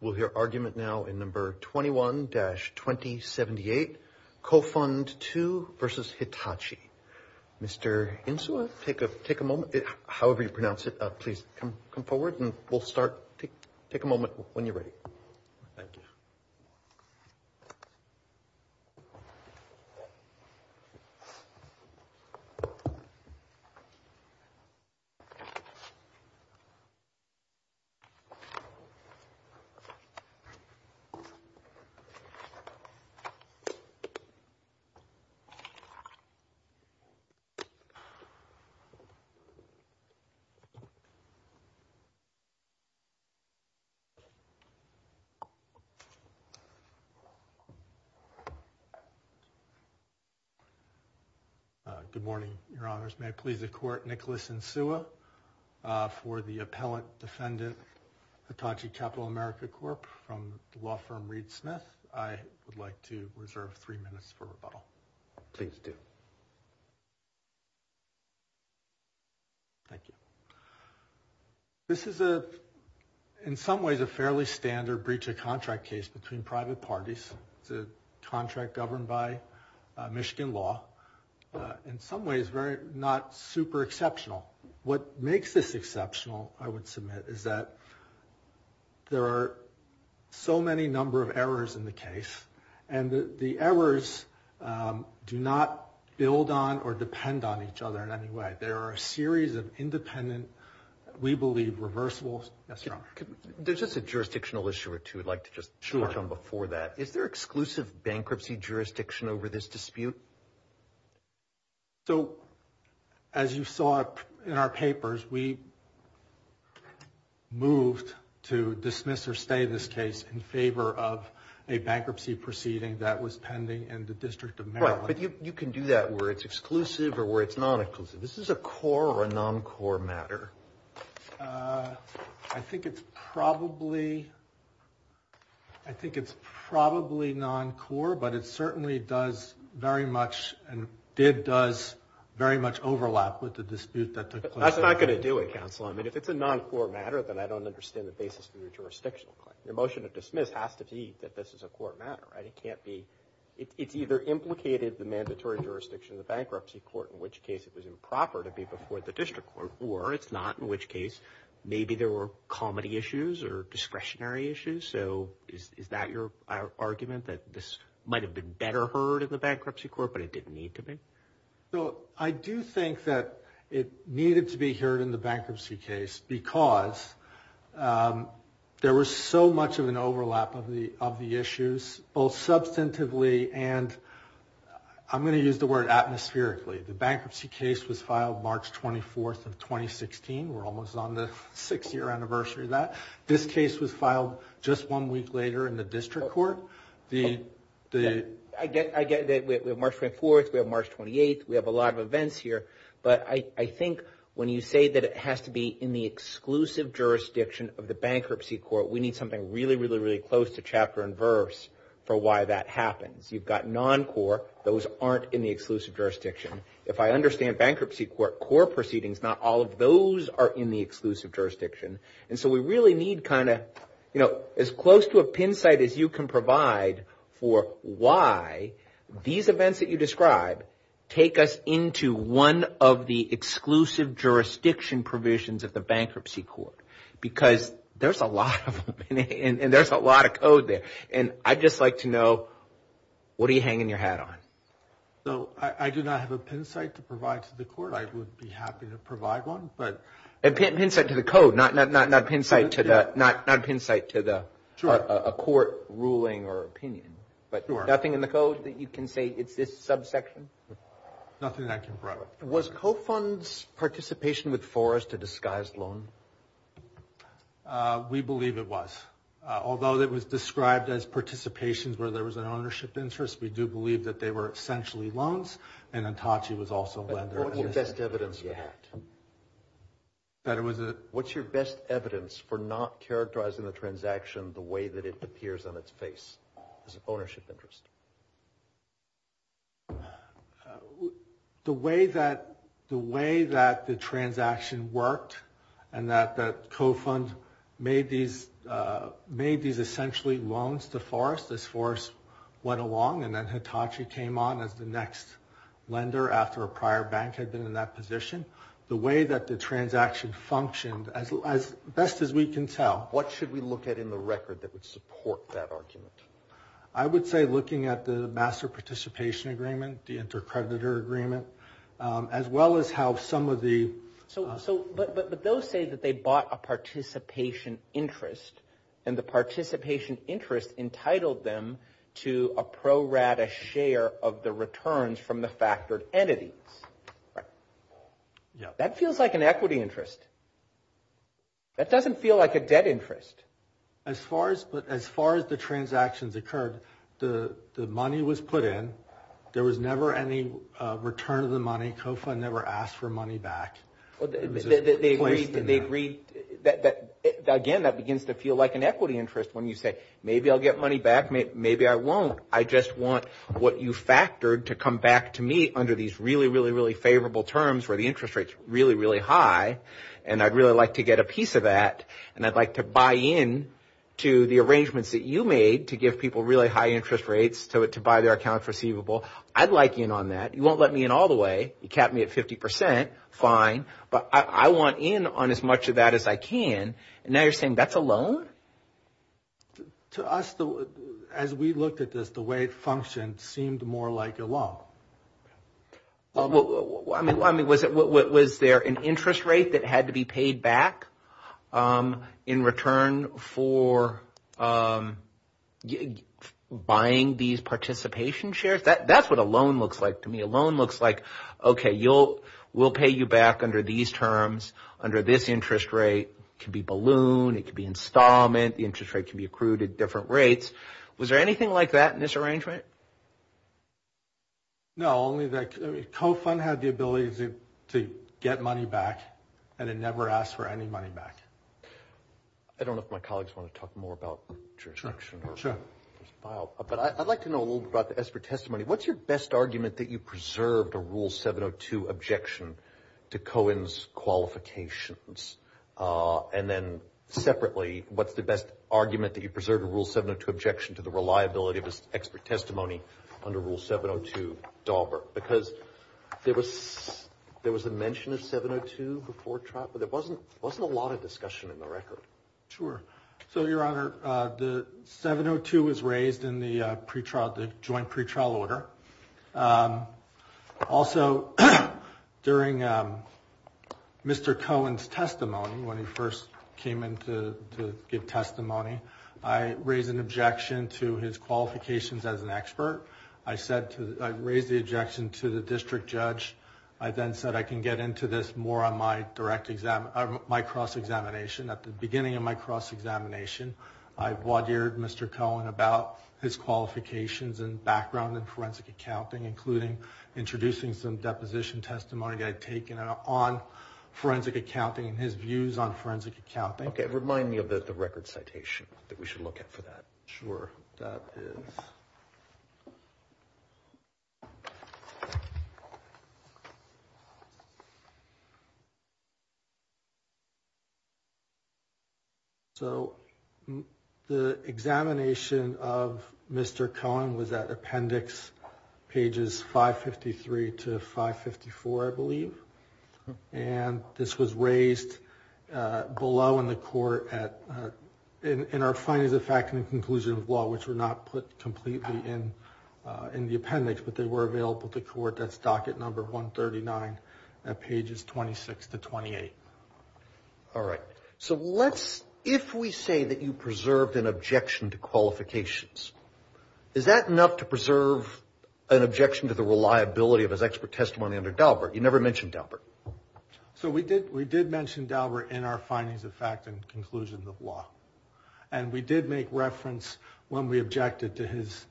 We'll hear argument now in number 21-2078, Cofund II v. Hitachi. Mr. Insua, take a moment, however you pronounce it, please come forward and we'll start. Take a moment when you're ready. Thank you. Cofund II v. Hitachi Capital Good morning, Your Honors. May it please the Court, Nicholas Insua, for the Appellant Defendant, Hitachi Capital America Corp., from the law firm Reed Smith. I would like to reserve three minutes for rebuttal. Please do. Thank you. This is, in some ways, a fairly standard breach of contract case between private parties. It's a contract governed by Michigan law. In some ways, not super exceptional. What makes this exceptional, I would submit, is that there are so many number of errors in the case, and the errors do not build on or depend on each other in any way. There are a series of independent, we believe, reversible. Yes, Your Honor. There's just a jurisdictional issue or two I'd like to just touch on before that. Is there exclusive bankruptcy jurisdiction over this dispute? So, as you saw in our papers, we moved to dismiss or stay this case in favor of a bankruptcy proceeding that was pending in the District of Maryland. Right, but you can do that where it's exclusive or where it's non-exclusive. This is a core or a non-core matter. I think it's probably non-core, but it certainly does very much overlap with the dispute that took place. That's not going to do it, counsel. I mean, if it's a non-core matter, then I don't understand the basis of your jurisdictional claim. Your motion to dismiss has to be that this is a core matter, right? It can't be. It's either implicated the mandatory jurisdiction of the bankruptcy court, in which case it was improper to be before the district court, or it's not, in which case maybe there were comedy issues or discretionary issues. So, is that your argument, that this might have been better heard in the bankruptcy court, but it didn't need to be? So, I do think that it needed to be heard in the bankruptcy case because there was so much of an overlap of the issues, both substantively and I'm going to use the word atmospherically. The bankruptcy case was filed March 24th of 2016. We're almost on the six-year anniversary of that. This case was filed just one week later in the district court. I get that we have March 24th, we have March 28th, we have a lot of events here, but I think when you say that it has to be in the exclusive jurisdiction of the bankruptcy court, we need something really, really, really close to chapter and verse for why that happens. You've got non-core. Those aren't in the exclusive jurisdiction. If I understand bankruptcy court core proceedings, not all of those are in the exclusive jurisdiction. And so we really need kind of, you know, as close to a pin site as you can provide for why these events that you describe take us into one of the exclusive jurisdiction provisions of the bankruptcy court because there's a lot of them and there's a lot of code there. And I'd just like to know, what are you hanging your hat on? I do not have a pin site to provide to the court. I would be happy to provide one. A pin site to the code, not a pin site to a court ruling or opinion. But nothing in the code that you can say it's this subsection? Nothing that I can provide. Was co-funds participation with Forrest a disguised loan? We believe it was. Although it was described as participation where there was an ownership interest, we do believe that they were essentially loans and Entachi was also a lender. What's your best evidence for that? What's your best evidence for not characterizing the transaction the way that it appears on its face as an ownership interest? The way that the transaction worked and that co-fund made these essentially loans to Forrest as Forrest went along and then Entachi came on as the next lender after a prior bank had been in that position. The way that the transaction functioned, as best as we can tell. What should we look at in the record that would support that argument? I would say looking at the master participation agreement, the intercreditor agreement, as well as how some of the But those say that they bought a participation interest and the participation interest entitled them to a pro rata share of the returns from the factored entities. That feels like an equity interest. That doesn't feel like a debt interest. As far as the transactions occurred, the money was put in. There was never any return of the money. The money co-fund never asked for money back. They agreed. Again, that begins to feel like an equity interest when you say, maybe I'll get money back, maybe I won't. I just want what you factored to come back to me under these really, really, really favorable terms where the interest rate's really, really high and I'd really like to get a piece of that and I'd like to buy in to the arrangements that you made to give people really high interest rates to buy their account for receivable. I'd like in on that. You won't let me in all the way. You capped me at 50 percent. Fine. But I want in on as much of that as I can. And now you're saying that's a loan? To us, as we looked at this, the way it functioned seemed more like a loan. I mean, was there an interest rate that had to be paid back in return for buying these participation shares? That's what a loan looks like to me. A loan looks like, okay, we'll pay you back under these terms, under this interest rate. It could be balloon. It could be installment. The interest rate could be accrued at different rates. Was there anything like that in this arrangement? No, only the co-fund had the ability to get money back and it never asked for any money back. I don't know if my colleagues want to talk more about jurisdiction. Sure. But I'd like to know a little bit about the expert testimony. What's your best argument that you preserved a Rule 702 objection to Cohen's qualifications? And then separately, what's the best argument that you preserved a Rule 702 objection to the reliability of expert testimony under Rule 702, Dauber? Because there was a mention of 702 before trial, but there wasn't a lot of discussion in the record. Sure. So, Your Honor, the 702 was raised in the joint pretrial order. Also, during Mr. Cohen's testimony, when he first came in to give testimony, I raised an objection to his qualifications as an expert. I raised the objection to the district judge. I then said I can get into this more on my cross-examination. At the beginning of my cross-examination, I've laudered Mr. Cohen about his qualifications and background in forensic accounting, including introducing some deposition testimony that I'd taken on forensic accounting and his views on forensic accounting. Okay. Remind me of the record citation that we should look at for that. Sure. That is. So the examination of Mr. Cohen was at appendix pages 553 to 554, I believe. And this was raised below in the court at – in our findings of fact and conclusion of law, which were not put completely in the appendix, but they were available to court. That's docket number 139 at pages 26 to 28. All right. So let's – if we say that you preserved an objection to qualifications, is that enough to preserve an objection to the reliability of his expert testimony under Daubert? You never mentioned Daubert. So we did mention Daubert in our findings of fact and conclusion of law. And we did make reference when we objected to his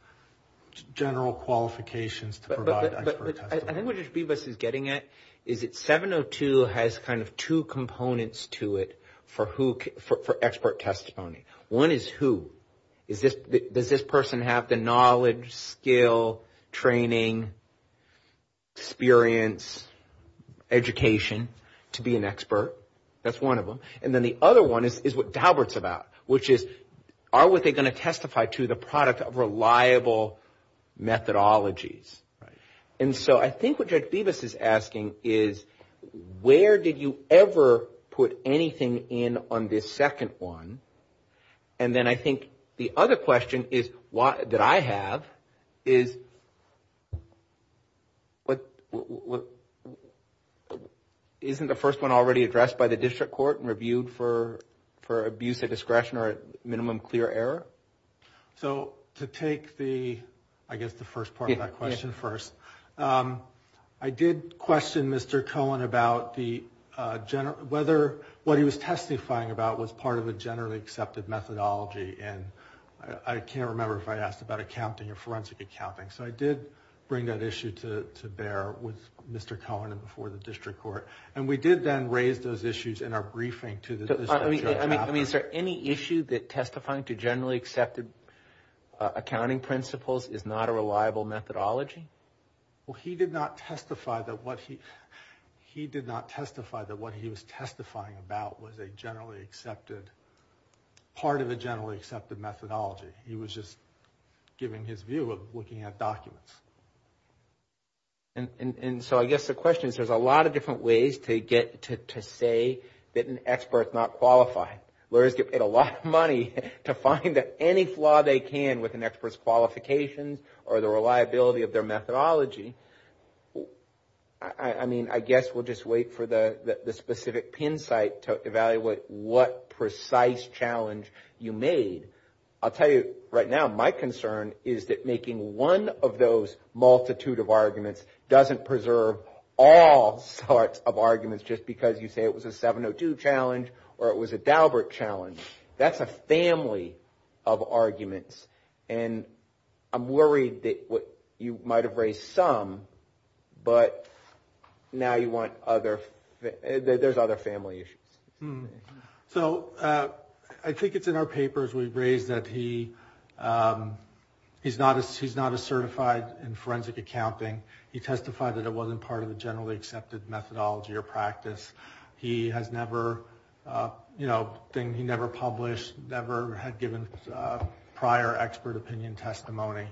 general qualifications to provide expert testimony. But I think what Judge Bibas is getting at is that 702 has kind of two components to it for who – for expert testimony. One is who. Does this person have the knowledge, skill, training, experience, education to be an expert? That's one of them. And then the other one is what Daubert's about, which is are they going to testify to the product of reliable methodologies? And so I think what Judge Bibas is asking is where did you ever put anything in on this second one? And then I think the other question that I have is isn't the first one already addressed by the district court and reviewed for abuse of discretion or minimum clear error? So to take the – I guess the first part of that question first. I did question Mr. Cohen about the – whether what he was testifying about was part of a generally accepted methodology. And I can't remember if I asked about accounting or forensic accounting. So I did bring that issue to bear with Mr. Cohen and before the district court. And we did then raise those issues in our briefing to the district judge. I mean, is there any issue that testifying to generally accepted accounting principles is not a reliable methodology? Well, he did not testify that what he – he did not testify that what he was part of a generally accepted methodology. He was just giving his view of looking at documents. And so I guess the question is there's a lot of different ways to get to say that an expert is not qualified. Lawyers get paid a lot of money to find that any flaw they can with an expert's qualifications or the reliability of their methodology. I mean, I guess we'll just wait for the specific pin site to evaluate what precise challenge you made. I'll tell you right now, my concern is that making one of those multitude of arguments doesn't preserve all sorts of arguments just because you say it was a 702 challenge or it was a Daubert challenge. That's a family of arguments. And I'm worried that you might have raised some, but now you want other – there's other family issues. So I think it's in our papers we've raised that he's not as certified in forensic accounting. He testified that it wasn't part of the generally accepted methodology or practice. He has never, you know, he never published, never had given prior expert opinion testimony.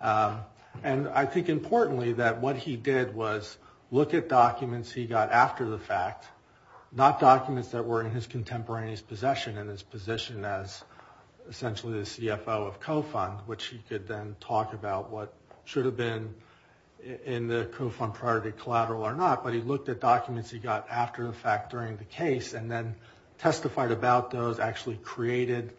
And I think importantly that what he did was look at documents he got after the fact, not documents that were in his contemporaneous possession, in his position as essentially the CFO of co-fund, which he could then talk about what should have been in the co-fund prior to the collateral or not. But he looked at documents he got after the fact during the case and then testified about those, actually created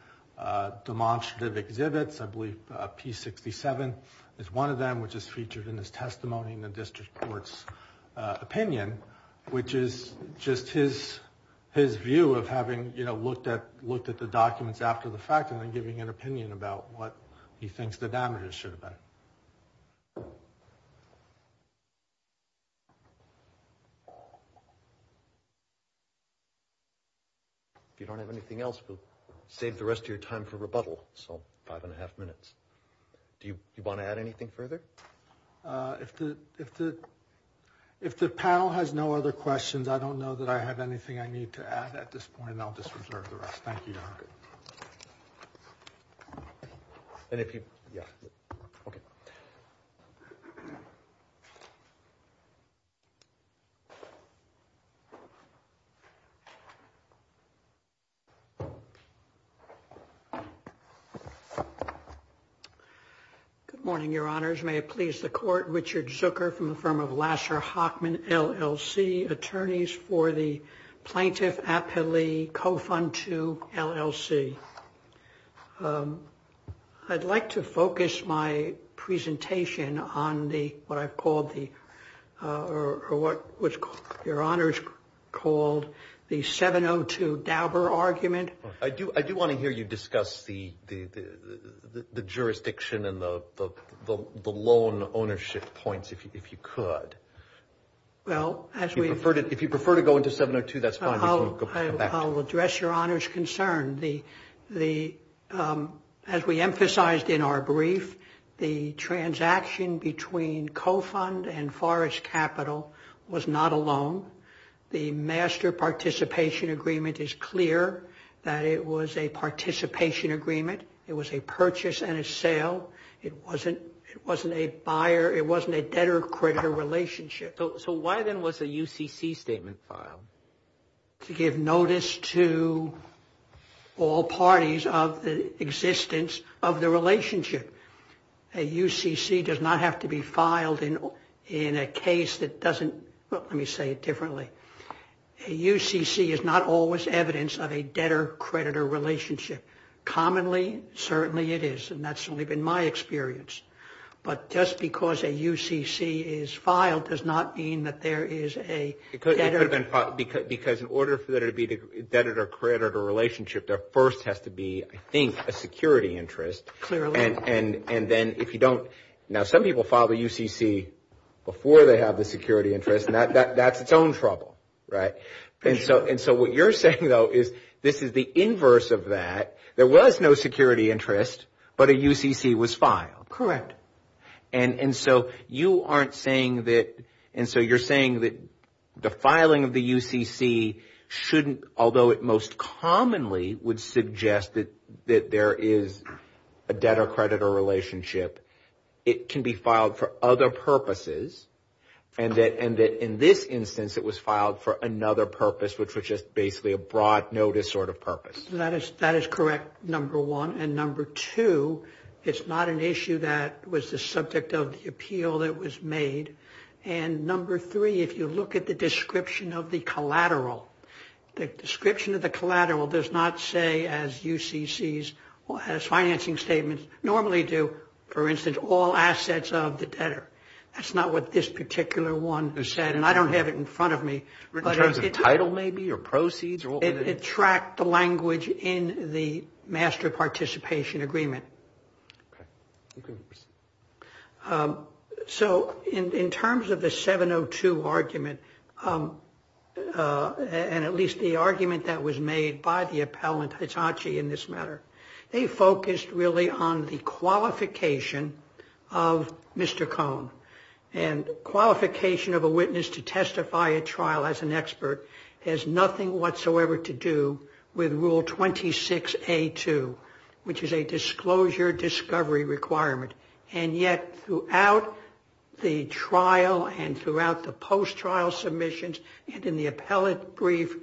demonstrative exhibits. I believe P67 is one of them, which is featured in his testimony in the view of having, you know, looked at the documents after the fact and then giving an opinion about what he thinks the damages should have been. If you don't have anything else, we'll save the rest of your time for rebuttal, so five and a half minutes. Do you want to add anything further? If the panel has no other questions, I don't know that I have anything I need to add at this point, and I'll just reserve the rest. Thank you. Good morning, Your Honors. May it please the Court. Richard Zucker from the firm of Lasser-Hochman, LLC, attorneys for the Plaintiff-Appellee Co-Fund II, LLC. I'd like to focus my presentation on the, what I've called the, or what Your Honors called the 702 Dauber argument. I do want to hear you discuss the jurisdiction and the loan ownership points, if you could. If you prefer to go into 702, that's fine. I'll address Your Honors' concern. As we emphasized in our brief, the transaction between Co-Fund and Forrest Capital was not a loan. The master participation agreement is clear that it was a participation agreement. It was a purchase and a sale. It wasn't a buyer, it wasn't a debtor-creditor relationship. So why then was a UCC statement filed? To give notice to all parties of the existence of the relationship. A UCC does not have to be filed in a case that doesn't, let me say it differently. A UCC is not always evidence of a debtor-creditor relationship. Commonly, certainly it is, and that's only been my experience. But just because a UCC is filed does not mean that there is a debtor- Because in order for there to be a debtor-creditor relationship, there first has to be, I think, a security interest. Clearly. And then if you don't, now some people file a UCC before they have the security interest, and that's its own trouble, right? And so what you're saying, though, is this is the inverse of that. There was no security interest, but a UCC was filed. Correct. And so you aren't saying that, and so you're saying that the filing of the UCC shouldn't, although it most commonly would suggest that there is a debtor-creditor relationship, it can be filed for other purposes, and that in this instance it was filed for another purpose, which was just basically a broad notice sort of purpose. That is correct, number one. And number two, it's not an issue that was the subject of the appeal that was made. And number three, if you look at the description of the collateral, the description of the collateral does not say, as UCCs, as financing statements normally do, for instance, all assets of the debtor. That's not what this particular one said, and I don't have it in front of me. In terms of title, maybe, or proceeds? It tracked the language in the master participation agreement. Okay. You can proceed. So in terms of the 702 argument, and at least the argument that was made by the appellant Hitachi in this matter, they focused really on the And qualification of a witness to testify at trial as an expert has nothing whatsoever to do with Rule 26A2, which is a disclosure discovery requirement. And yet throughout the trial and throughout the post-trial submissions and in the appellate brief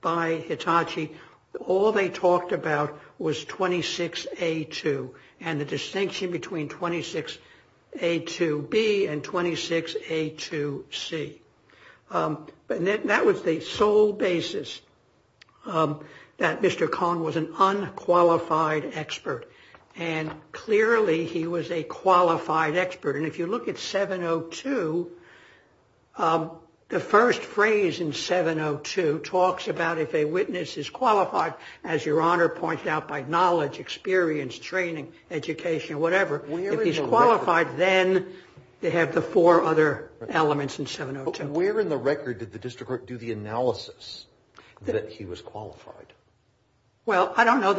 by Hitachi, all they talked about was 26A2. And the distinction between 26A2B and 26A2C. And that was the sole basis that Mr. Kahn was an unqualified expert. And clearly he was a qualified expert. And if you look at 702, the first phrase in 702 talks about if a witness is If he's qualified, then they have the four other elements in 702. Where in the record did the district court do the analysis that he was qualified? Well, I don't know.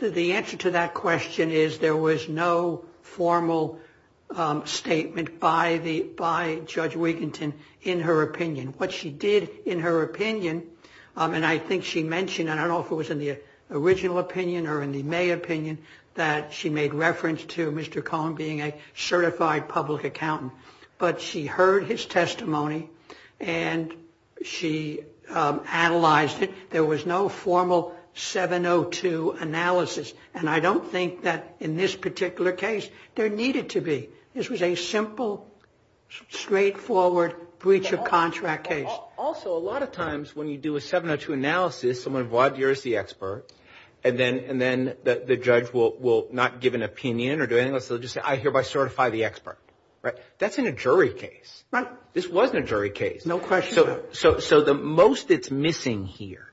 The answer to that question is there was no formal statement by Judge Weekington in her opinion. What she did in her opinion, and I think she mentioned, I don't know if it in the May opinion, that she made reference to Mr. Kahn being a certified public accountant. But she heard his testimony and she analyzed it. There was no formal 702 analysis. And I don't think that in this particular case there needed to be. This was a simple, straightforward breach of contract case. Also, a lot of times when you do a 702 analysis, someone bought you as the judge will not give an opinion or do anything else. They'll just say, I hereby certify the expert. Right? That's in a jury case. Right. This was in a jury case. No question. So the most that's missing here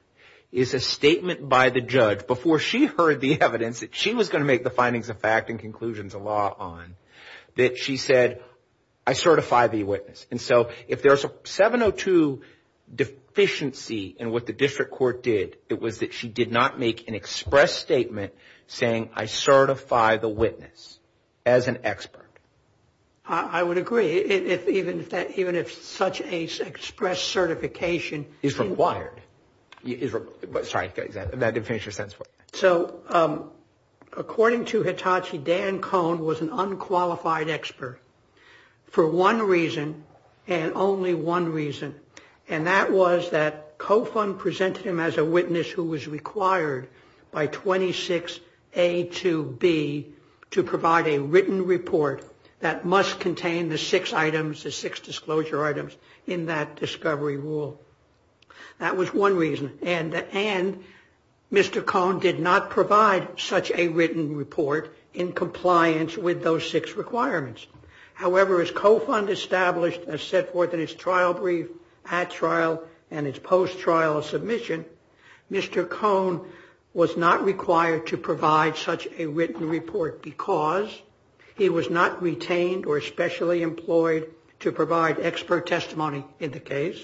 is a statement by the judge before she heard the evidence that she was going to make the findings of fact and conclusions of law on that she said, I certify the witness. And so if there's a 702 deficiency in what the district court did, it was that she did not make an express statement saying, I certify the witness as an expert. I would agree. Even if such an express certification is required. Sorry. That didn't finish your sentence. So according to Hitachi, Dan Cohn was an unqualified expert for one reason and only one reason. And that was that Cofund presented him as a witness who was required by 26A to B to provide a written report that must contain the six items, the six disclosure items in that discovery rule. That was one reason. And Mr. Cohn did not provide such a written report in compliance with those six requirements. However, as Cofund established and set forth in his trial brief at trial and his post-trial submission, Mr. Cohn was not required to provide such a written report because he was not retained or specially employed to provide expert testimony in the case.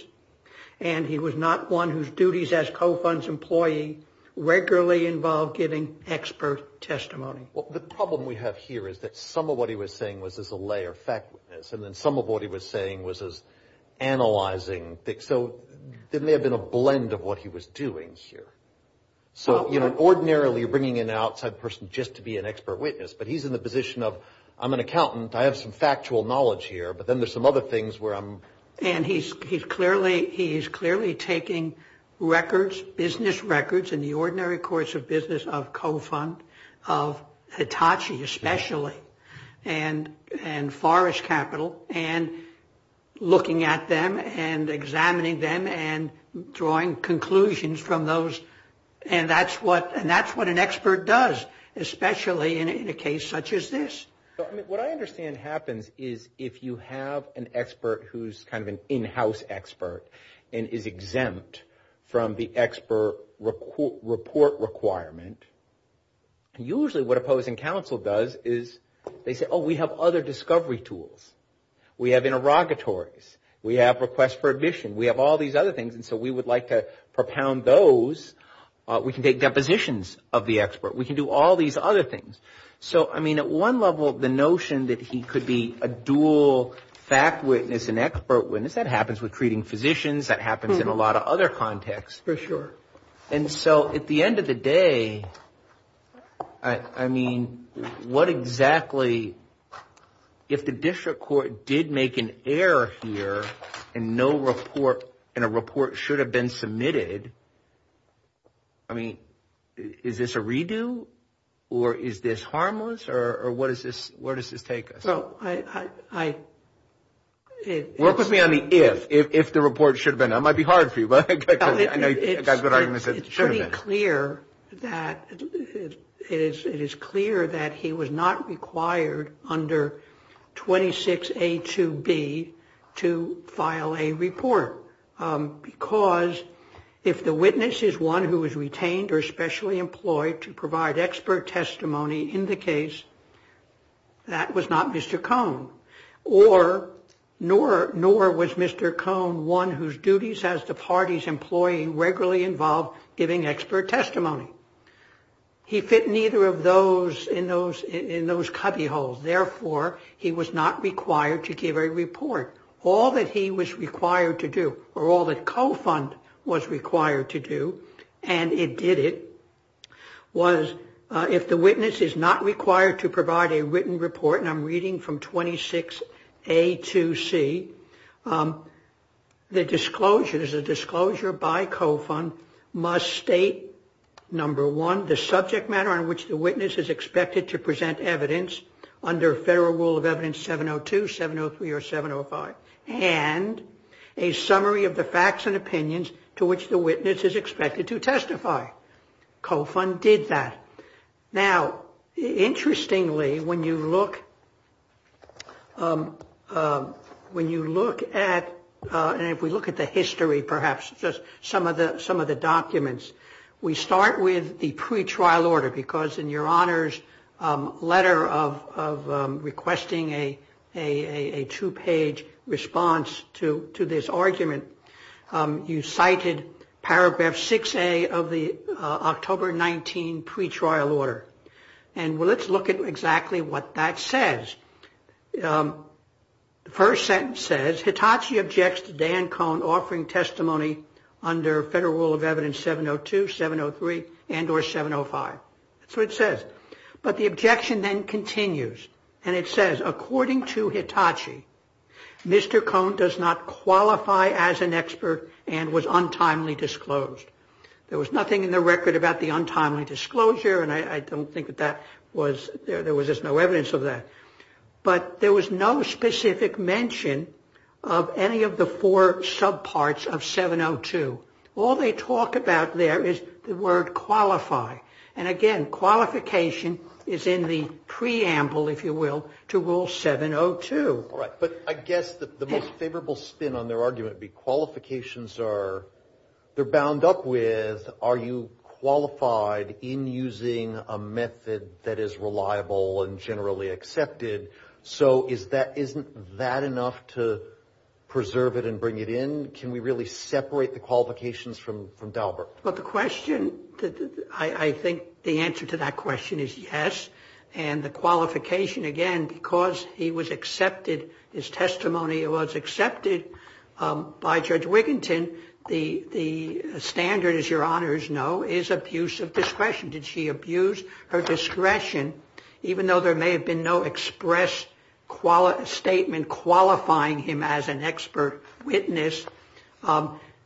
And he was not one whose duties as Cofund's employee regularly involved giving expert testimony. Well, the problem we have here is that some of what he was saying was as a lay or fact witness, and then some of what he was saying was as analyzing. So there may have been a blend of what he was doing here. So, you know, ordinarily bringing in an outside person just to be an expert witness, but he's in the position of I'm an accountant, I have some factual knowledge here, but then there's some other things where I'm. And he's clearly taking records, business records in the ordinary course of business of Cofund, of Hitachi especially, and Forrest Capital, and looking at them and examining them and drawing conclusions from those. And that's what an expert does, especially in a case such as this. What I understand happens is if you have an expert who's kind of an in-house expert and is exempt from the expert report requirement, usually what opposing counsel does is they say, oh, we have other discovery tools. We have interrogatories. We have requests for admission. We have all these other things. And so we would like to propound those. We can take depositions of the expert. We can do all these other things. So, I mean, at one level the notion that he could be a dual fact witness and treating physicians, that happens in a lot of other contexts. For sure. And so at the end of the day, I mean, what exactly, if the district court did make an error here and no report, and a report should have been submitted, I mean, is this a redo? Or is this harmless? Or where does this take us? So I — Work with me on the if. If the report should have been. That might be hard for you, but I know you've got good arguments that it should have been. It's pretty clear that it is clear that he was not required under 26A2B to file a report. Because if the witness is one who was retained or specially employed to provide expert testimony in the case, that was not Mr. Cohn, nor was Mr. Cohn one whose duties as the party's employee regularly involved giving expert testimony. He fit neither of those in those cubbyholes. Therefore, he was not required to give a report. All that he was required to do, or all that co-fund was required to do, and it did it, was if the witness is not required to provide a written report, and I'm reading from 26A2C, the disclosure, there's a disclosure by co-fund must state, number one, the subject matter on which the witness is expected to present evidence under Federal Rule of Evidence 702, 703, or 705, and a summary of the facts and opinions to which the witness is expected to testify. Co-fund did that. Now, interestingly, when you look at, and if we look at the history, perhaps, just some of the documents, we start with the pretrial order, because in your Honor's letter of requesting a two-page response to this argument, you cited paragraph 6A of the October 19 pretrial order, and let's look at exactly what that says. The first sentence says, Hitachi objects to Dan Cohn offering testimony under Federal Rule of Evidence 702, 703, and or 705. So it says, but the objection then continues, and it says, according to Hitachi, Mr. Cohn does not qualify as an expert and was given a record about the untimely disclosure, and I don't think that that was, there was just no evidence of that. But there was no specific mention of any of the four subparts of 702. All they talk about there is the word qualify, and again, qualification is in the preamble, if you will, to Rule 702. All right, but I guess the most favorable spin on their argument would be qualifications are, they're bound up with, are you qualified in using a method that is reliable and generally accepted? So is that, isn't that enough to preserve it and bring it in? Can we really separate the qualifications from Daubert? Well, the question, I think the answer to that question is yes, and the qualification, again, because he was accepted, his testimony was accepted by Judge Wiginton, the standard, as your Honors know, is that he is qualified in using a method that is abuse of discretion. Did she abuse her discretion, even though there may have been no express statement qualifying him as an expert witness?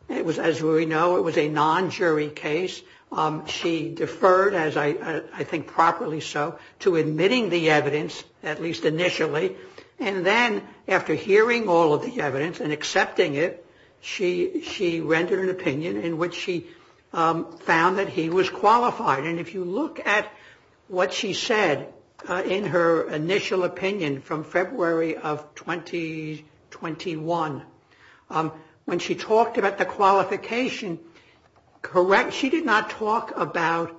It was, as we know, it was a non-jury case. She deferred, as I think properly so, to admitting the evidence, at least initially, and then after hearing all of the evidence and he was qualified. And if you look at what she said in her initial opinion from February of 2021, when she talked about the qualification, correct, she did not talk about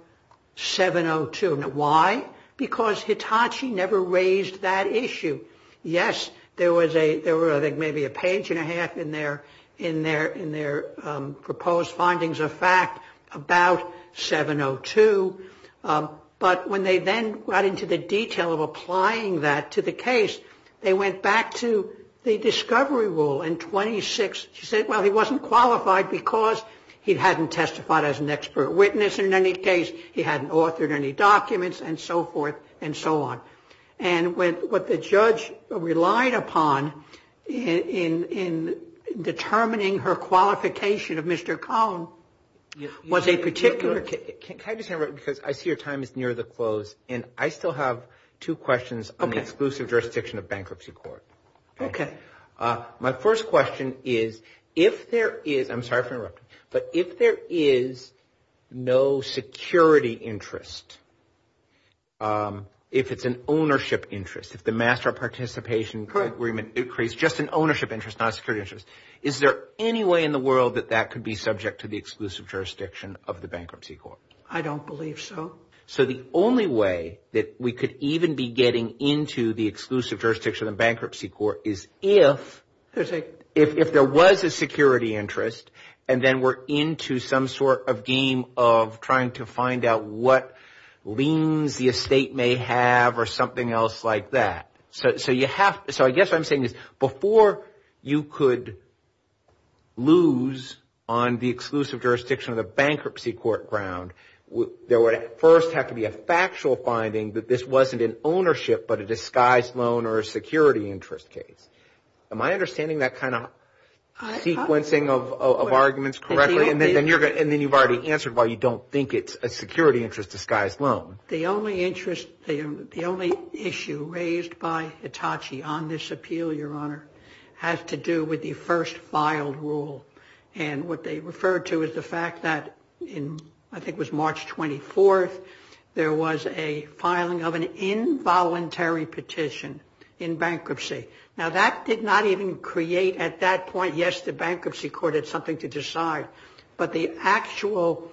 702. Why? Because Hitachi never raised that issue. Yes, there was, I think maybe a page and a half in their proposed findings of fact about 702, but when they then got into the detail of applying that to the case, they went back to the discovery rule in 26. She said, well, he wasn't qualified because he hadn't testified as an expert witness in any case. He hadn't authored any documents and so forth and so on. And what the judge relied upon in determining her qualification of Mr. Cohn was a particular case. Can I just interrupt, because I see your time is near the close, and I still have two questions on the exclusive jurisdiction of bankruptcy court. Okay. My first question is, if there is, I'm sorry for interrupting, but if there is no security interest, if it's an open case, ownership interest, if the master participation agreement creates just an ownership interest, not a security interest, is there any way in the world that that could be subject to the exclusive jurisdiction of the bankruptcy court? I don't believe so. So the only way that we could even be getting into the exclusive jurisdiction of bankruptcy court is if there was a security interest, and then we're into some sort of game of trying to find out what liens the estate may have or something like that. So I guess what I'm saying is before you could lose on the exclusive jurisdiction of the bankruptcy court ground, there would first have to be a factual finding that this wasn't an ownership but a disguised loan or a security interest case. Am I understanding that kind of sequencing of arguments correctly? And then you've already answered why you don't think it's a security interest disguised loan. The only interest, the only issue raised by Hitachi on this appeal, Your Honor, has to do with the first filed rule. And what they refer to is the fact that in, I think it was March 24th, there was a filing of an involuntary petition in bankruptcy. Now that did not even create at that point, yes, the bankruptcy court had something to decide, but the actual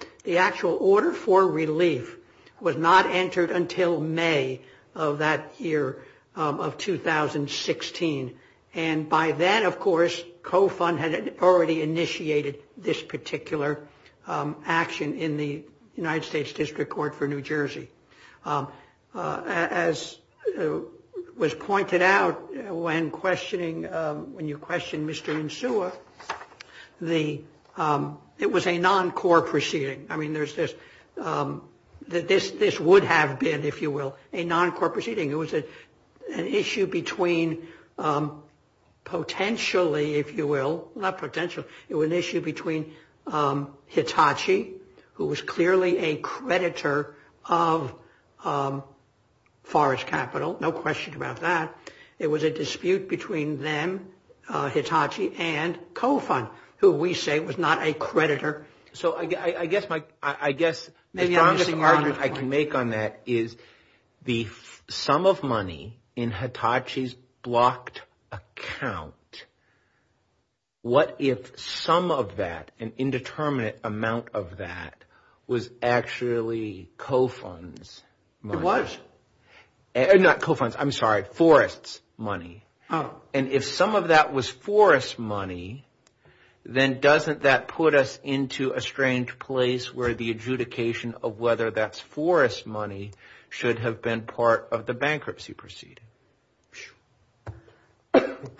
order for relief was not entered until May of that year of 2016. And by then, of course, COFUND had already initiated this particular action in the United States District Court for New Jersey. As was pointed out when questioning, when you questioned Mr. Nsua, it was a non-core proceeding. I mean, this would have been, if you will, a non-core proceeding. It was an issue between potentially, if you will, not potentially, it was an issue between Hitachi, who was clearly a creditor of Forrest Capital, no question about that. It was a dispute between them, Hitachi, and COFUND, who we say was not a creditor. So I guess the strongest argument I can make on that is the sum of money in Hitachi's blocked account, what if some of that, an indeterminate amount of that, was actually COFUND's money? It was. Not COFUND's, I'm sorry, Forrest's money. And if some of that was Forrest's money, then doesn't that put us into a strange place where the adjudication of whether that's Forrest's money should have been part of the bankruptcy proceeding?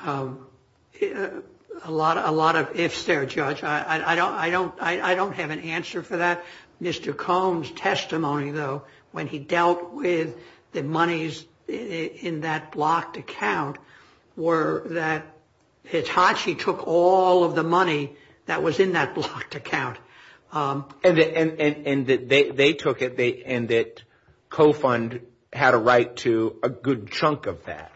A lot of ifs there, Judge. I don't have an answer for that. Mr. Combs' testimony, though, when he dealt with the monies in that blocked account, were that Hitachi took all of the money that was in that blocked account. And that they took it, and that COFUND had a right to a good chunk of that.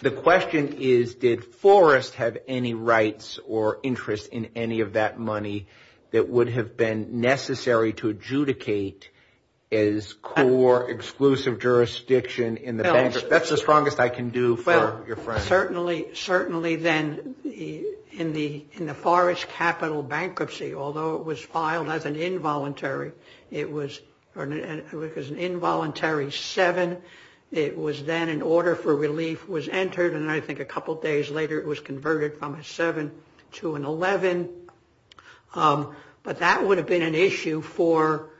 The question is, did Forrest have any rights or interest in any of that money that would have been necessary to adjudicate as core exclusive jurisdiction in the bankruptcy? That's the strongest I can do for your friend. Well, certainly then, in the Forrest capital bankruptcy, although it was filed as an involuntary, it was an involuntary seven. It was then an order for relief was entered, and I think a couple days later it was converted from a seven to an 11. But that would have been an issue for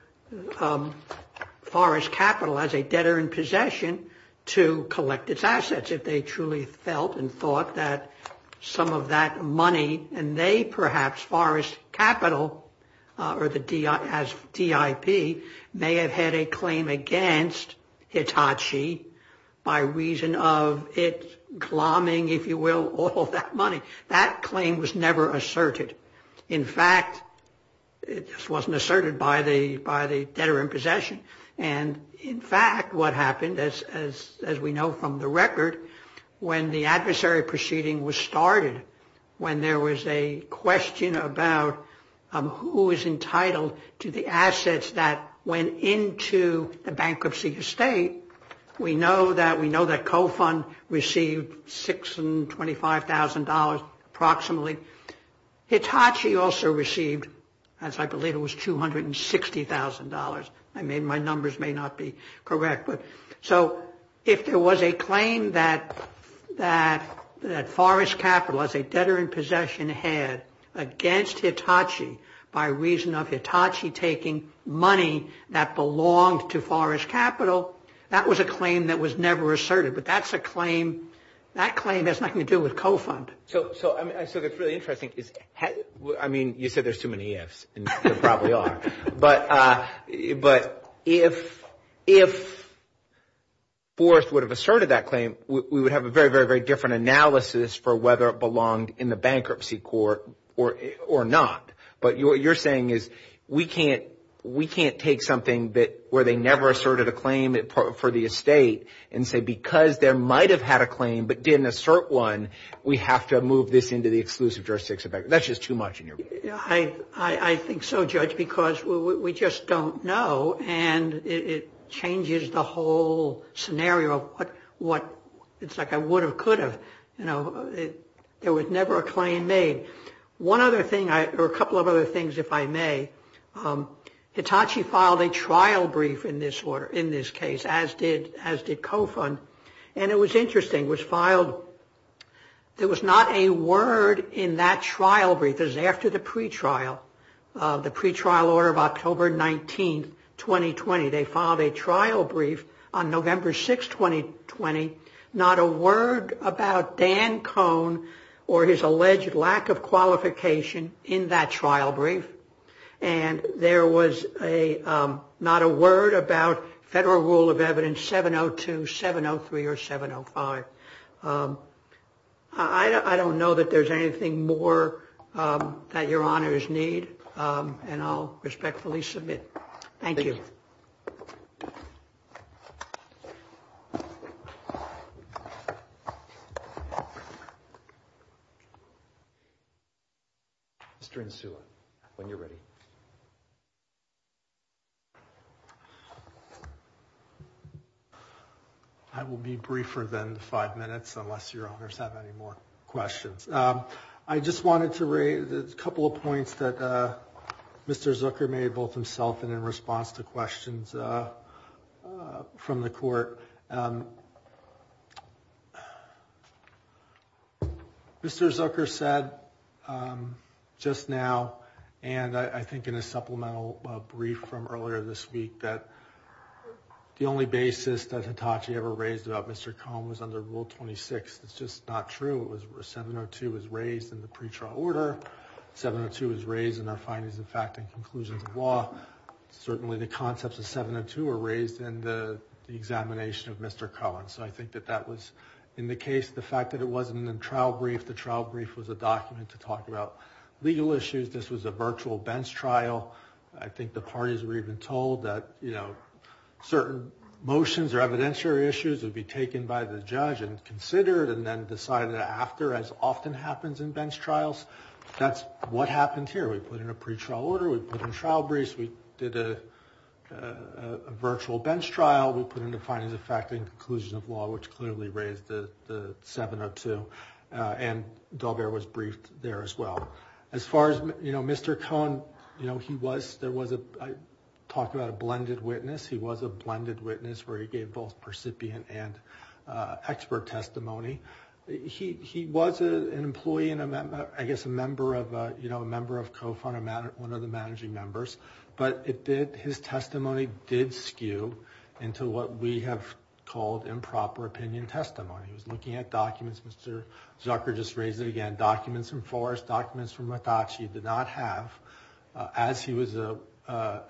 Forrest capital as a debtor in possession to collect its assets, if they truly felt and thought that some of that money, and they perhaps, Forrest capital, or as DIP, may have had a claim against Hitachi's assets. By reason of it glomming, if you will, all of that money. That claim was never asserted. In fact, it just wasn't asserted by the debtor in possession, and in fact, what happened, as we know from the record, when the adversary proceeding was started, when there was a question about who was entitled to the assets that went into the bankruptcy estate, we know that co-fund received $625,000 approximately. Hitachi also received, as I believe it was, $260,000. My numbers may not be correct. So if there was a claim that Forrest capital, as a debtor in possession, had against Hitachi by reason of Hitachi taking money that belonged to Forrest capital, that was a claim that was never asserted, but that claim has nothing to do with co-fund. So what's really interesting is, I mean, you said there's too many ifs, and there probably are, but if Forrest would have asserted that claim, we would have a very, very, very different analysis for whether it belonged in the bankruptcy court or not. But what you're saying is, we can't take something where they never asserted a claim for the estate and say, because they might have had a claim but didn't assert one, we have to move this into the exclusive jurisdiction. That's just too much in your view. I think so, Judge, because we just don't know, and it changes the whole scenario of what it's like I would have, could have. You know, there was never a claim made. One other thing, or a couple of other things, if I may. Hitachi filed a trial brief in this case, as did co-fund, and it was interesting. It was filed, there was not a word in that trial brief. It was after the pretrial, the pretrial order of October 19, 2020. They filed a trial brief on November 6, 2020. Not a word about Dan Cohn or his alleged lack of qualification in that trial brief. And there was not a word about federal rule of evidence 702, 703, or 705. I don't know that there's anything more that your honors need, and I'll respectfully submit. Thank you. Mr. Insula, when you're ready. I will be briefer than five minutes unless your honors have any more questions. I just wanted to raise a couple of points that Mr. Zucker made both himself and in response to questions from the court. Mr. Zucker said just now, and I think in a supplemental brief from earlier this week, that the only basis that Hitachi ever raised about Mr. Cohn was under Rule 26. It's just not true. It was where 702 was raised in the pretrial order. 702 was raised in our findings of fact and conclusions of law. Certainly the concepts of 702 were raised in the examination of Mr. Cohn. So I think that that was in the case. The fact that it wasn't in the trial brief, the trial brief was a document to talk about legal issues. This was a virtual bench trial. I think the parties were even told that certain motions or evidentiary issues would be taken by the judge and considered and then decided after, as often happens in bench trials. That's what happened here. We put in a pretrial order. We put in trial briefs. We did a virtual bench trial. We put in the findings of fact and conclusions of law, which clearly raised the 702. And Daubert was briefed there as well. As far as Mr. Cohn, I talked about a blended witness. He was a blended witness where he gave both percipient and expert testimony. He was an employee and I guess a member of COFUN, one of the managing members. But his testimony did skew into what we have called improper opinion testimony. He was looking at documents. Mr. Zucker just raised it again. Documents from Forrest, documents from Mitachi did not have as he was a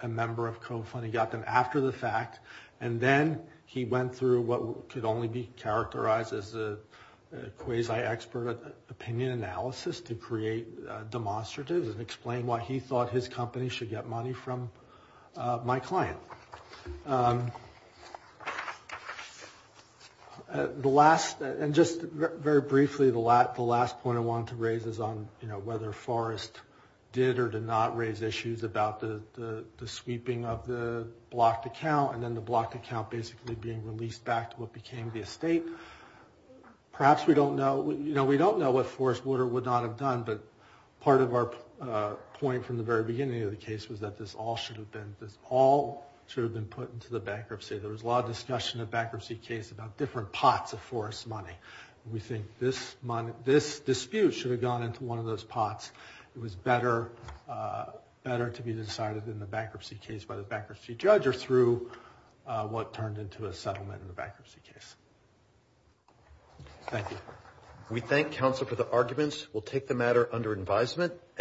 member of COFUN. He got them after the fact and then he went through what could only be characterized as a quasi-expert opinion analysis to create demonstratives and explain why he thought his company should get money from my client. And just very briefly, the last point I wanted to raise is on whether Forrest did or did not raise issues about the sweeping of the blocked account and then the blocked account basically being released back to what became the estate. Perhaps we don't know what Forrest would or would not have done, but part of our point from the very beginning of the case was that this all should have been put into the bankruptcy. There was a lot of discussion in the bankruptcy case about different pots of Forrest's money. We think this dispute should have gone into one of those pots. It was better to be decided in the bankruptcy case by the bankruptcy judge or through what turned into a settlement in the bankruptcy case. Thank you.